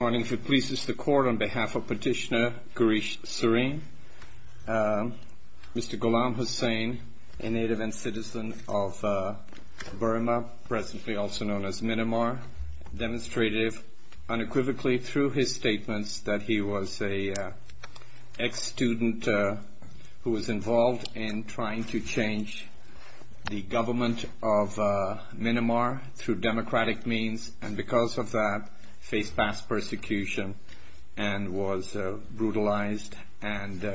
Good morning. If it pleases the Court, on behalf of Petitioner Girish Sareen, Mr. Ghulam Hussain, a native and citizen of Burma, presently also known as Minamar, demonstrated unequivocally through his statements that he was an ex-student who was involved in trying to change the government of Minamar through democratic means, and because of that, faced mass persecution and was brutalized and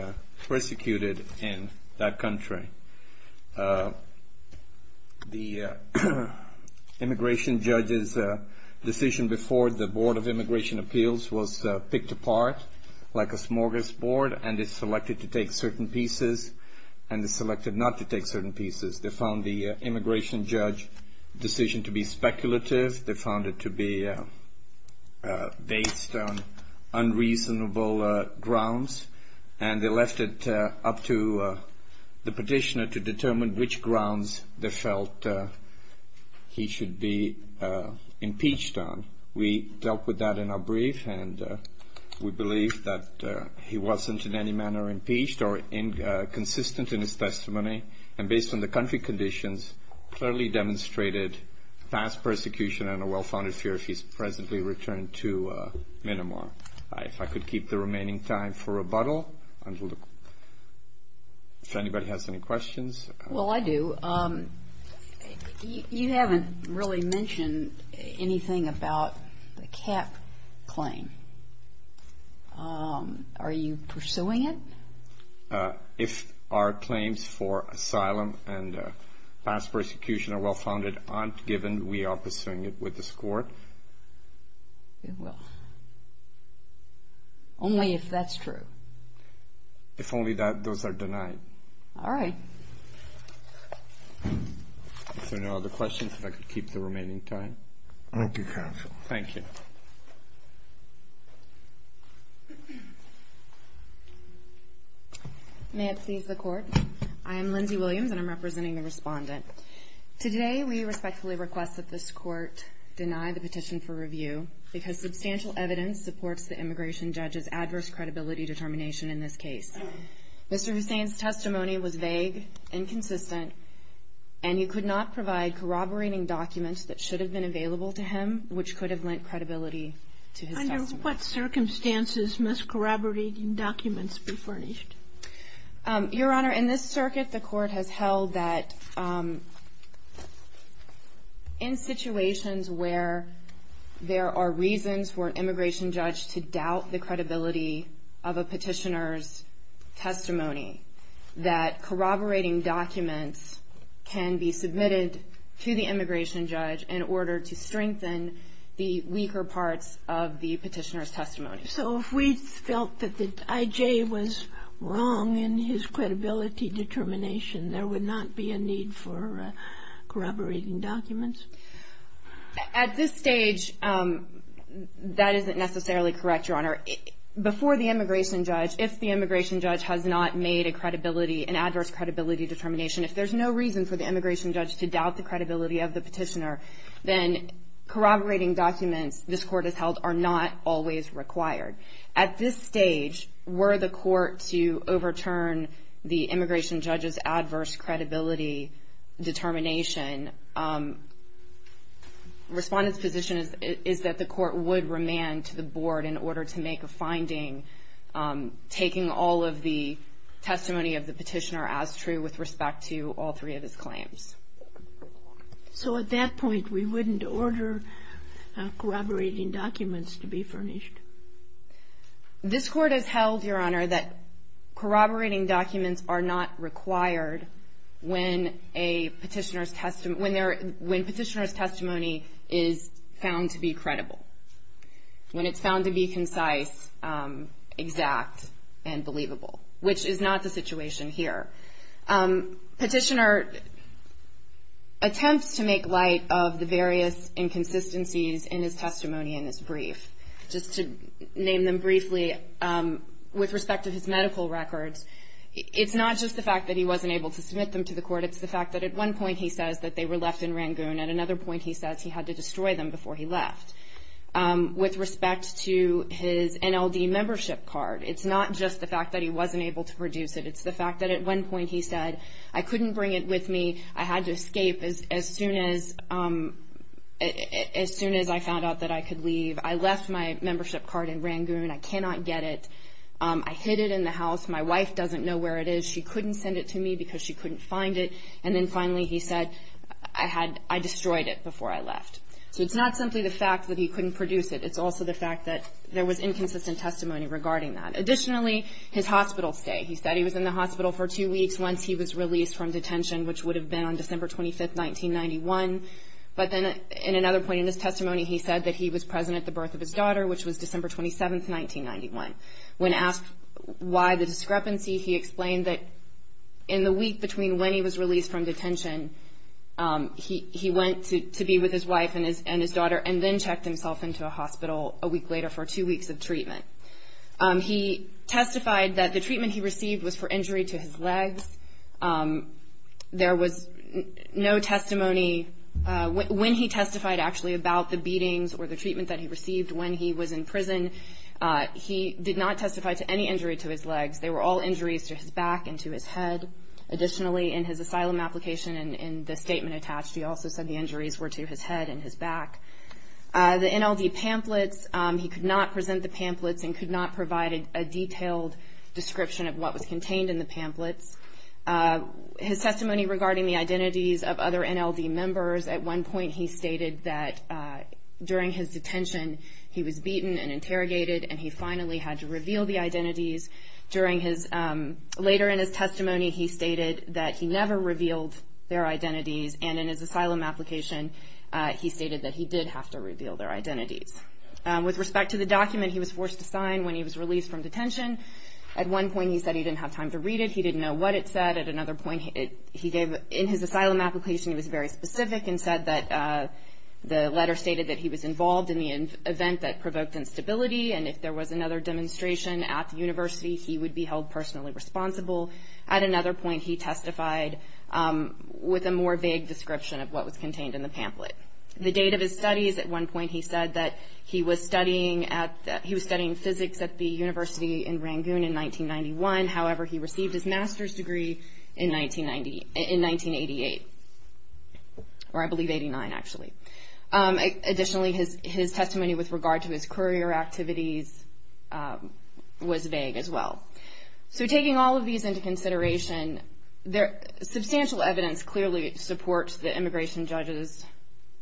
persecuted in that country. The immigration judge's decision before the Board of Immigration Appeals was picked apart like a smorgasbord and is selected to take certain pieces and is selected not to take certain pieces. They found the immigration judge's decision to be speculative. They found it to be based on unreasonable grounds, and they left it up to the petitioner to determine which grounds they felt he should be impeached on. We dealt with that in our brief, and we believe that he wasn't in any manner impeached or inconsistent in his testimony. And based on the country conditions, clearly demonstrated mass persecution and a well-founded fear if he's presently returned to Minamar. If I could keep the remaining time for rebuttal, if anybody has any questions. Well, I do. You haven't really mentioned anything about the cap claim. Are you pursuing it? If our claims for asylum and mass persecution are well-founded, aren't given, we are pursuing it with discord. We will. Only if that's true. If only those are denied. All right. If there are no other questions, if I could keep the remaining time. Thank you, counsel. Thank you. May it please the Court. I am Lindsay Williams, and I'm representing the Respondent. Today, we respectfully request that this Court deny the petition for review, because substantial evidence supports the immigration judge's adverse credibility determination in this case. Mr. Hussain's testimony was vague, inconsistent, and you could not provide corroborating documents that should have been available to him, which could have lent credibility to his testimony. Under what circumstances must corroborating documents be furnished? Your Honor, in this circuit, the Court has held that in situations where there are reasons for an immigration judge to doubt the credibility of a petitioner's testimony, that corroborating documents can be submitted to the immigration judge in order to strengthen the weaker parts of the petitioner's testimony. So if we felt that the I.J. was wrong in his credibility determination, there would not be a need for corroborating documents? At this stage, that isn't necessarily correct, Your Honor. Before the immigration judge, if the immigration judge has not made a credibility, an adverse credibility determination, if there's no reason for the immigration judge to doubt the credibility of the petitioner, then corroborating documents this Court has held are not always required. At this stage, were the Court to overturn the immigration judge's adverse credibility determination, Respondent's position is that the Court would remand to the Board in order to make a finding, taking all of the testimony of the petitioner as true with respect to all three of his claims. So at that point, we wouldn't order corroborating documents to be furnished? This Court has held, Your Honor, that corroborating documents are not required when a petitioner's testimony is found to be credible. When it's found to be concise, exact, and believable, which is not the situation here. Petitioner attempts to make light of the various inconsistencies in his testimony in this brief. Just to name them briefly, with respect to his medical records, it's not just the fact that he wasn't able to submit them to the Court, it's the fact that at one point he says that they were left in Rangoon, at another point he says he had to destroy them before he left. With respect to his NLD membership card, it's not just the fact that he wasn't able to produce it, it's the fact that at one point he said, I couldn't bring it with me, I had to escape as soon as I found out that I could leave, I left my membership card in Rangoon, I cannot get it, I hid it in the house, my wife doesn't know where it is, she couldn't send it to me because she couldn't find it, and then finally he said, I destroyed it before I left. So it's not simply the fact that he couldn't produce it, it's also the fact that there was inconsistent testimony regarding that. Additionally, his hospital stay, he said he was in the hospital for two weeks once he was released from detention, which would have been on December 25th, 1991, but then in another point in his testimony he said that he was present at the birth of his daughter, which was December 27th, 1991. When asked why the discrepancy, he explained that in the week between when he was released from detention, he went to be with his wife and his daughter and then checked himself into a hospital a week later for two weeks of treatment. He testified that the treatment he received was for injury to his legs. There was no testimony, when he testified actually about the beatings or the treatment that he received when he was in prison, he did not testify to any injury to his legs. They were all injuries to his back and to his head. Additionally, in his asylum application, in the statement attached, he also said the injuries were to his head and his back. The NLD pamphlets, he could not present the pamphlets and could not provide a detailed description of what was contained in the pamphlets. His testimony regarding the identities of other NLD members, at one point he stated that during his detention, he was beaten and interrogated and he finally had to reveal the identities. Later in his testimony, he stated that he never revealed their identities and in his asylum application, he stated that he did have to reveal their identities. With respect to the document he was forced to sign when he was released from detention, at one point he said he didn't have time to read it, he didn't know what it said. At another point, in his asylum application, he was very specific and said that the letter stated that he was involved in the event that provoked instability and if there was another demonstration at the university, he would be held personally responsible. At another point, he testified with a more vague description of what was contained in the pamphlet. The date of his studies, at one point he said that he was studying physics at the university in Rangoon in 1991. However, he received his master's degree in 1988, or I believe 89 actually. Additionally, his testimony with regard to his courier activities was vague as well. So taking all of these into consideration, substantial evidence clearly supports the immigration judge's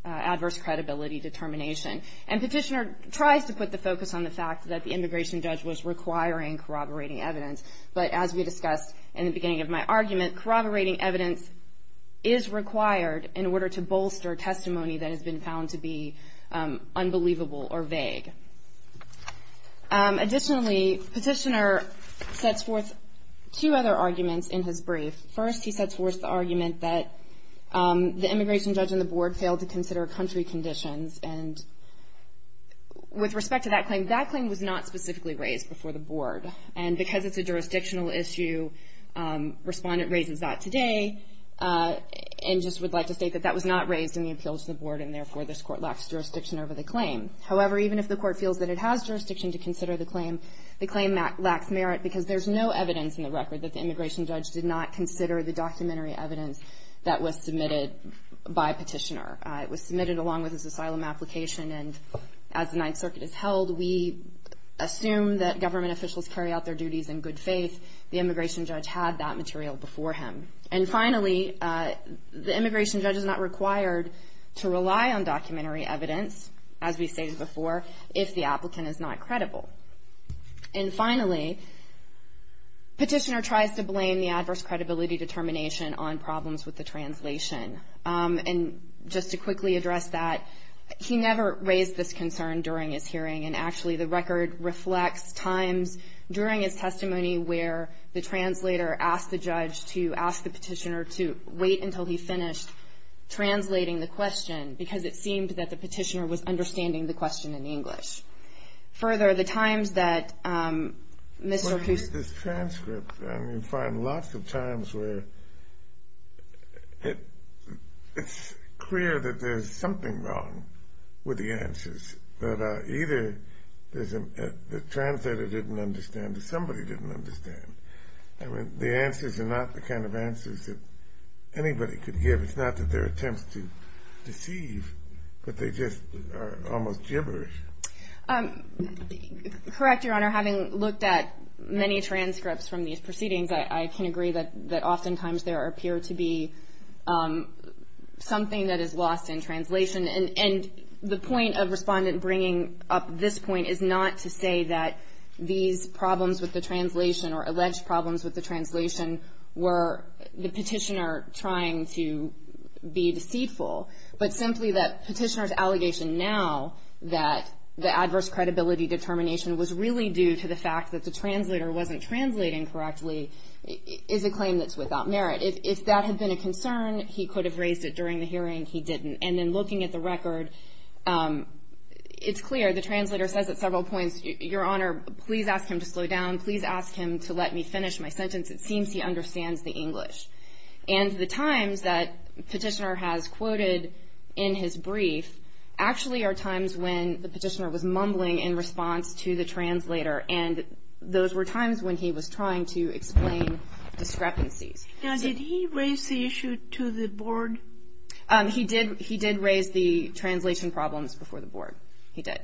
adverse credibility determination. And Petitioner tries to put the focus on the fact that the immigration judge was requiring corroborating evidence, but as we discussed in the beginning of my argument, corroborating evidence is required in order to bolster testimony that has been found to be unbelievable or vague. Additionally, Petitioner sets forth two other arguments in his brief. First, he sets forth the argument that the immigration judge and the board failed to consider country conditions and with respect to that claim, that claim was not specifically raised before the board. And because it's a jurisdictional issue, Respondent raises that today and just would like to state that that was not raised in the appeal to the board and therefore this court lacks jurisdiction over the claim. However, even if the court feels that it has jurisdiction to consider the claim, the claim lacks merit because there's no evidence in the record that the immigration judge did not consider the documentary evidence that was submitted by Petitioner. It was submitted along with his asylum application and as the Ninth Circuit has held, we assume that government officials carry out their duties in good faith. The immigration judge had that material before him. And finally, the immigration judge is not required to rely on documentary evidence, as we stated before, if the applicant is not credible. And finally, Petitioner tries to blame the adverse credibility determination on problems with the translation. And just to quickly address that, he never raised this concern during his hearing and actually the record reflects times during his testimony where the translator asked the judge to ask the Petitioner to wait until he finished translating the question because it seemed that the Petitioner was understanding the question in English. Further, the times that Mr. Cusick... This transcript, I mean, you find lots of times where it's clear that there's something wrong with the answers that either the translator didn't understand or somebody didn't understand. I mean, the answers are not the kind of answers that anybody could give. It's not that they're attempts to deceive, but they just are almost gibberish. Correct, Your Honor. Having looked at many transcripts from these proceedings, I can agree that oftentimes there appear to be something that is lost in translation. And the point of Respondent bringing up this point is not to say that these problems with the translation or alleged problems with the translation were the Petitioner trying to be deceitful, but simply that Petitioner's allegation now that the adverse credibility determination was really due to the fact that the translator wasn't translating correctly is a claim that's without merit. If that had been a concern, he could have raised it during the hearing. He didn't. And then looking at the record, it's clear the translator says at several points, Your Honor, please ask him to slow down. Please ask him to let me finish my sentence. It seems he understands the English. And the times that Petitioner has quoted in his brief actually are times when the Petitioner was mumbling in response to the translator, and those were times when he was trying to explain discrepancies. Now, did he raise the issue to the Board? He did raise the translation problems before the Board. He did.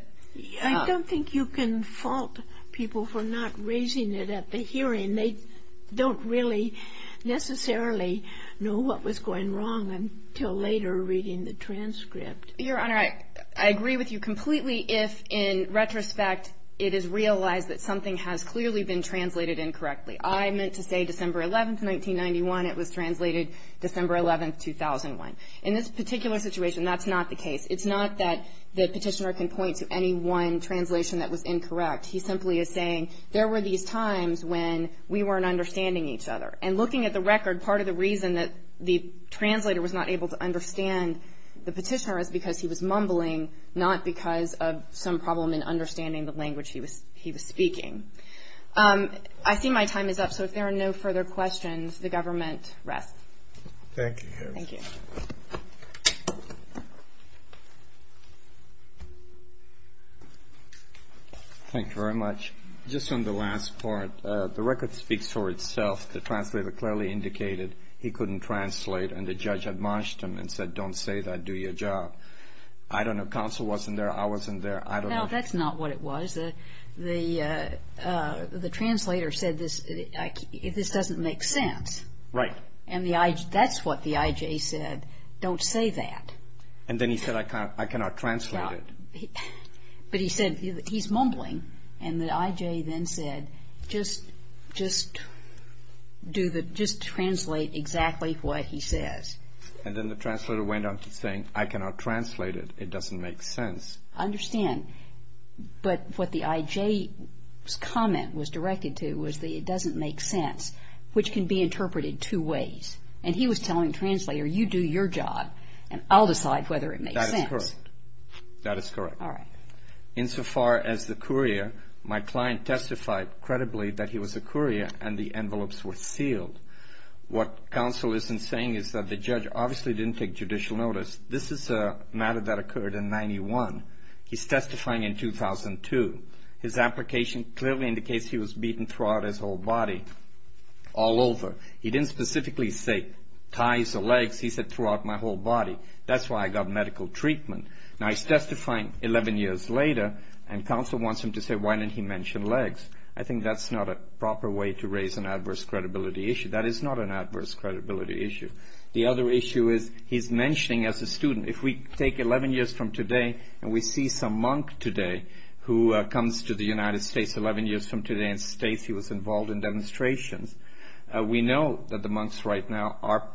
I don't think you can fault people for not raising it at the hearing. They don't really necessarily know what was going wrong until later reading the transcript. Your Honor, I agree with you completely if, in retrospect, it is realized that something has clearly been translated incorrectly. I meant to say December 11th, 1991. It was translated December 11th, 2001. In this particular situation, that's not the case. It's not that the Petitioner can point to any one translation that was incorrect. He simply is saying there were these times when we weren't understanding each other. And looking at the record, part of the reason that the translator was not able to understand the Petitioner is because he was mumbling, not because of some problem in understanding the language he was speaking. I see my time is up, so if there are no further questions, the government rests. Thank you, Your Honor. Thank you. Thank you very much. Just on the last part, the record speaks for itself. The translator clearly indicated he couldn't translate, and the judge admonished him and said, Don't say that. Do your job. I don't know. Counsel wasn't there. I wasn't there. I don't know. No, that's not what it was. The translator said this doesn't make sense. Right. And that's what the I.J. said. Don't say that. And then he said, I cannot translate it. But he said, he's mumbling, and the I.J. then said, Just translate exactly what he says. And then the translator went on to say, I cannot translate it. It doesn't make sense. I understand. But what the I.J.'s comment was directed to was that it doesn't make sense, which can be interpreted two ways. And he was telling the translator, You do your job, and I'll decide whether it makes sense. That is correct. That is correct. All right. Insofar as the courier, my client testified credibly that he was a courier, and the envelopes were sealed. What counsel isn't saying is that the judge obviously didn't take judicial notice. This is a matter that occurred in 91. He's testifying in 2002. His application clearly indicates he was beaten throughout his whole body, all over. He didn't specifically say thighs or legs. He said throughout my whole body. That's why I got medical treatment. Now, he's testifying 11 years later, and counsel wants him to say, Why didn't he mention legs? I think that's not a proper way to raise an adverse credibility issue. That is not an adverse credibility issue. The other issue is he's mentioning as a student. If we take 11 years from today and we see some monk today who comes to the United States 11 years from today and states he was involved in demonstrations, we know that the monks right now are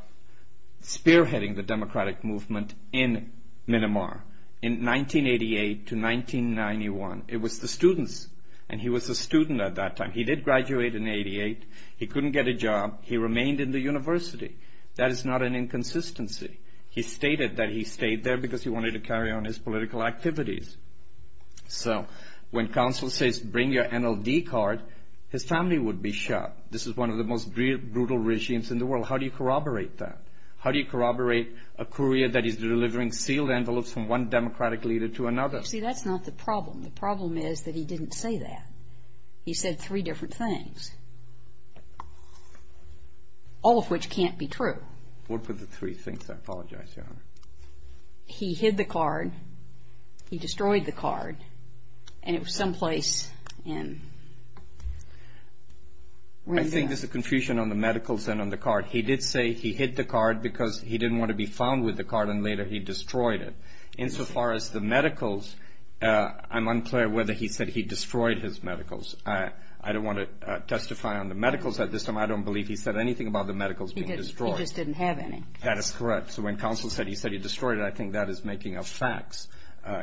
spearheading the democratic movement in Myanmar in 1988 to 1991. It was the students, and he was a student at that time. He did graduate in 88. He couldn't get a job. He remained in the university. That is not an inconsistency. He stated that he stayed there because he wanted to carry on his political activities. So when counsel says, Bring your NLD card, his family would be shot. This is one of the most brutal regimes in the world. How do you corroborate that? How do you corroborate a courier that is delivering sealed envelopes from one democratic leader to another? See, that's not the problem. The problem is that he didn't say that. He said three different things, all of which can't be true. What were the three things? He hid the card. He destroyed the card. And it was some place in Myanmar. I think there's a confusion on the medicals and on the card. He did say he hid the card because he didn't want to be found with the card, and later he destroyed it. Insofar as the medicals, I'm unclear whether he said he destroyed his medicals. I don't want to testify on the medicals at this time. I don't believe he said anything about the medicals being destroyed. He just didn't have any. That is correct. So when counsel said he said he destroyed it, I think that is making up facts.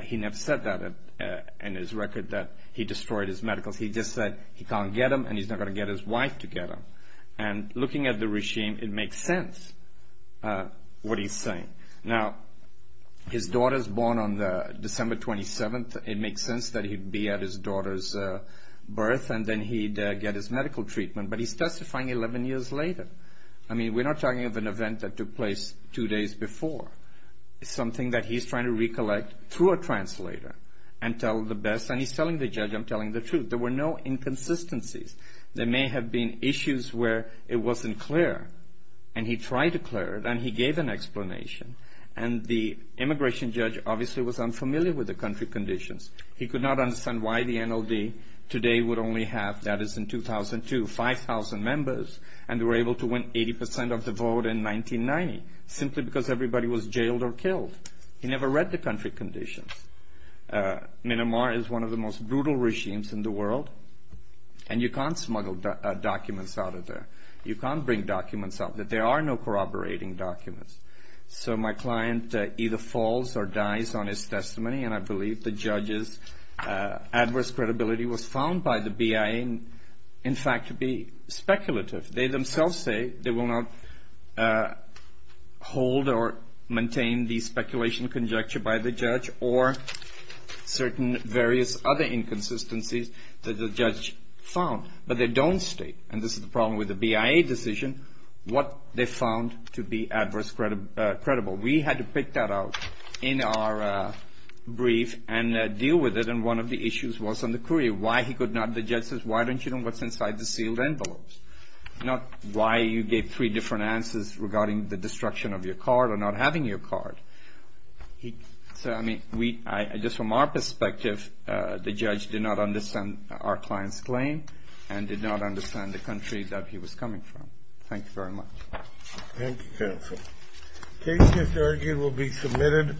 He never said that in his record that he destroyed his medicals. He just said he can't get them, and he's not going to get his wife to get them. And looking at the regime, it makes sense what he's saying. Now, his daughter is born on December 27th. It makes sense that he'd be at his daughter's birth, and then he'd get his medical treatment. But he's testifying 11 years later. I mean, we're not talking of an event that took place two days before. It's something that he's trying to recollect through a translator and tell the best. And he's telling the judge, I'm telling the truth. There were no inconsistencies. There may have been issues where it wasn't clear, and he tried to clear it, and he gave an explanation. And the immigration judge obviously was unfamiliar with the country conditions. He could not understand why the NLD today would only have, that is in 2002, 5,000 members, and they were able to win 80% of the vote in 1990 simply because everybody was jailed or killed. He never read the country conditions. Myanmar is one of the most brutal regimes in the world, and you can't smuggle documents out of there. You can't bring documents up. There are no corroborating documents. So my client either falls or dies on his testimony, and I believe the judge's adverse credibility was found by the BIA, in fact, to be speculative. They themselves say they will not hold or maintain the speculation conjecture by the judge or certain various other inconsistencies that the judge found, but they don't state, and this is the problem with the BIA decision, what they found to be adverse credible. We had to pick that out in our brief and deal with it, and one of the issues was on the courier, why he could not. The judge says, why don't you know what's inside the sealed envelopes, not why you gave three different answers regarding the destruction of your card or not having your card. So, I mean, just from our perspective, the judge did not understand our client's claim and did not understand the country that he was coming from. Thank you very much. Thank you, counsel. Cases argued will be submitted.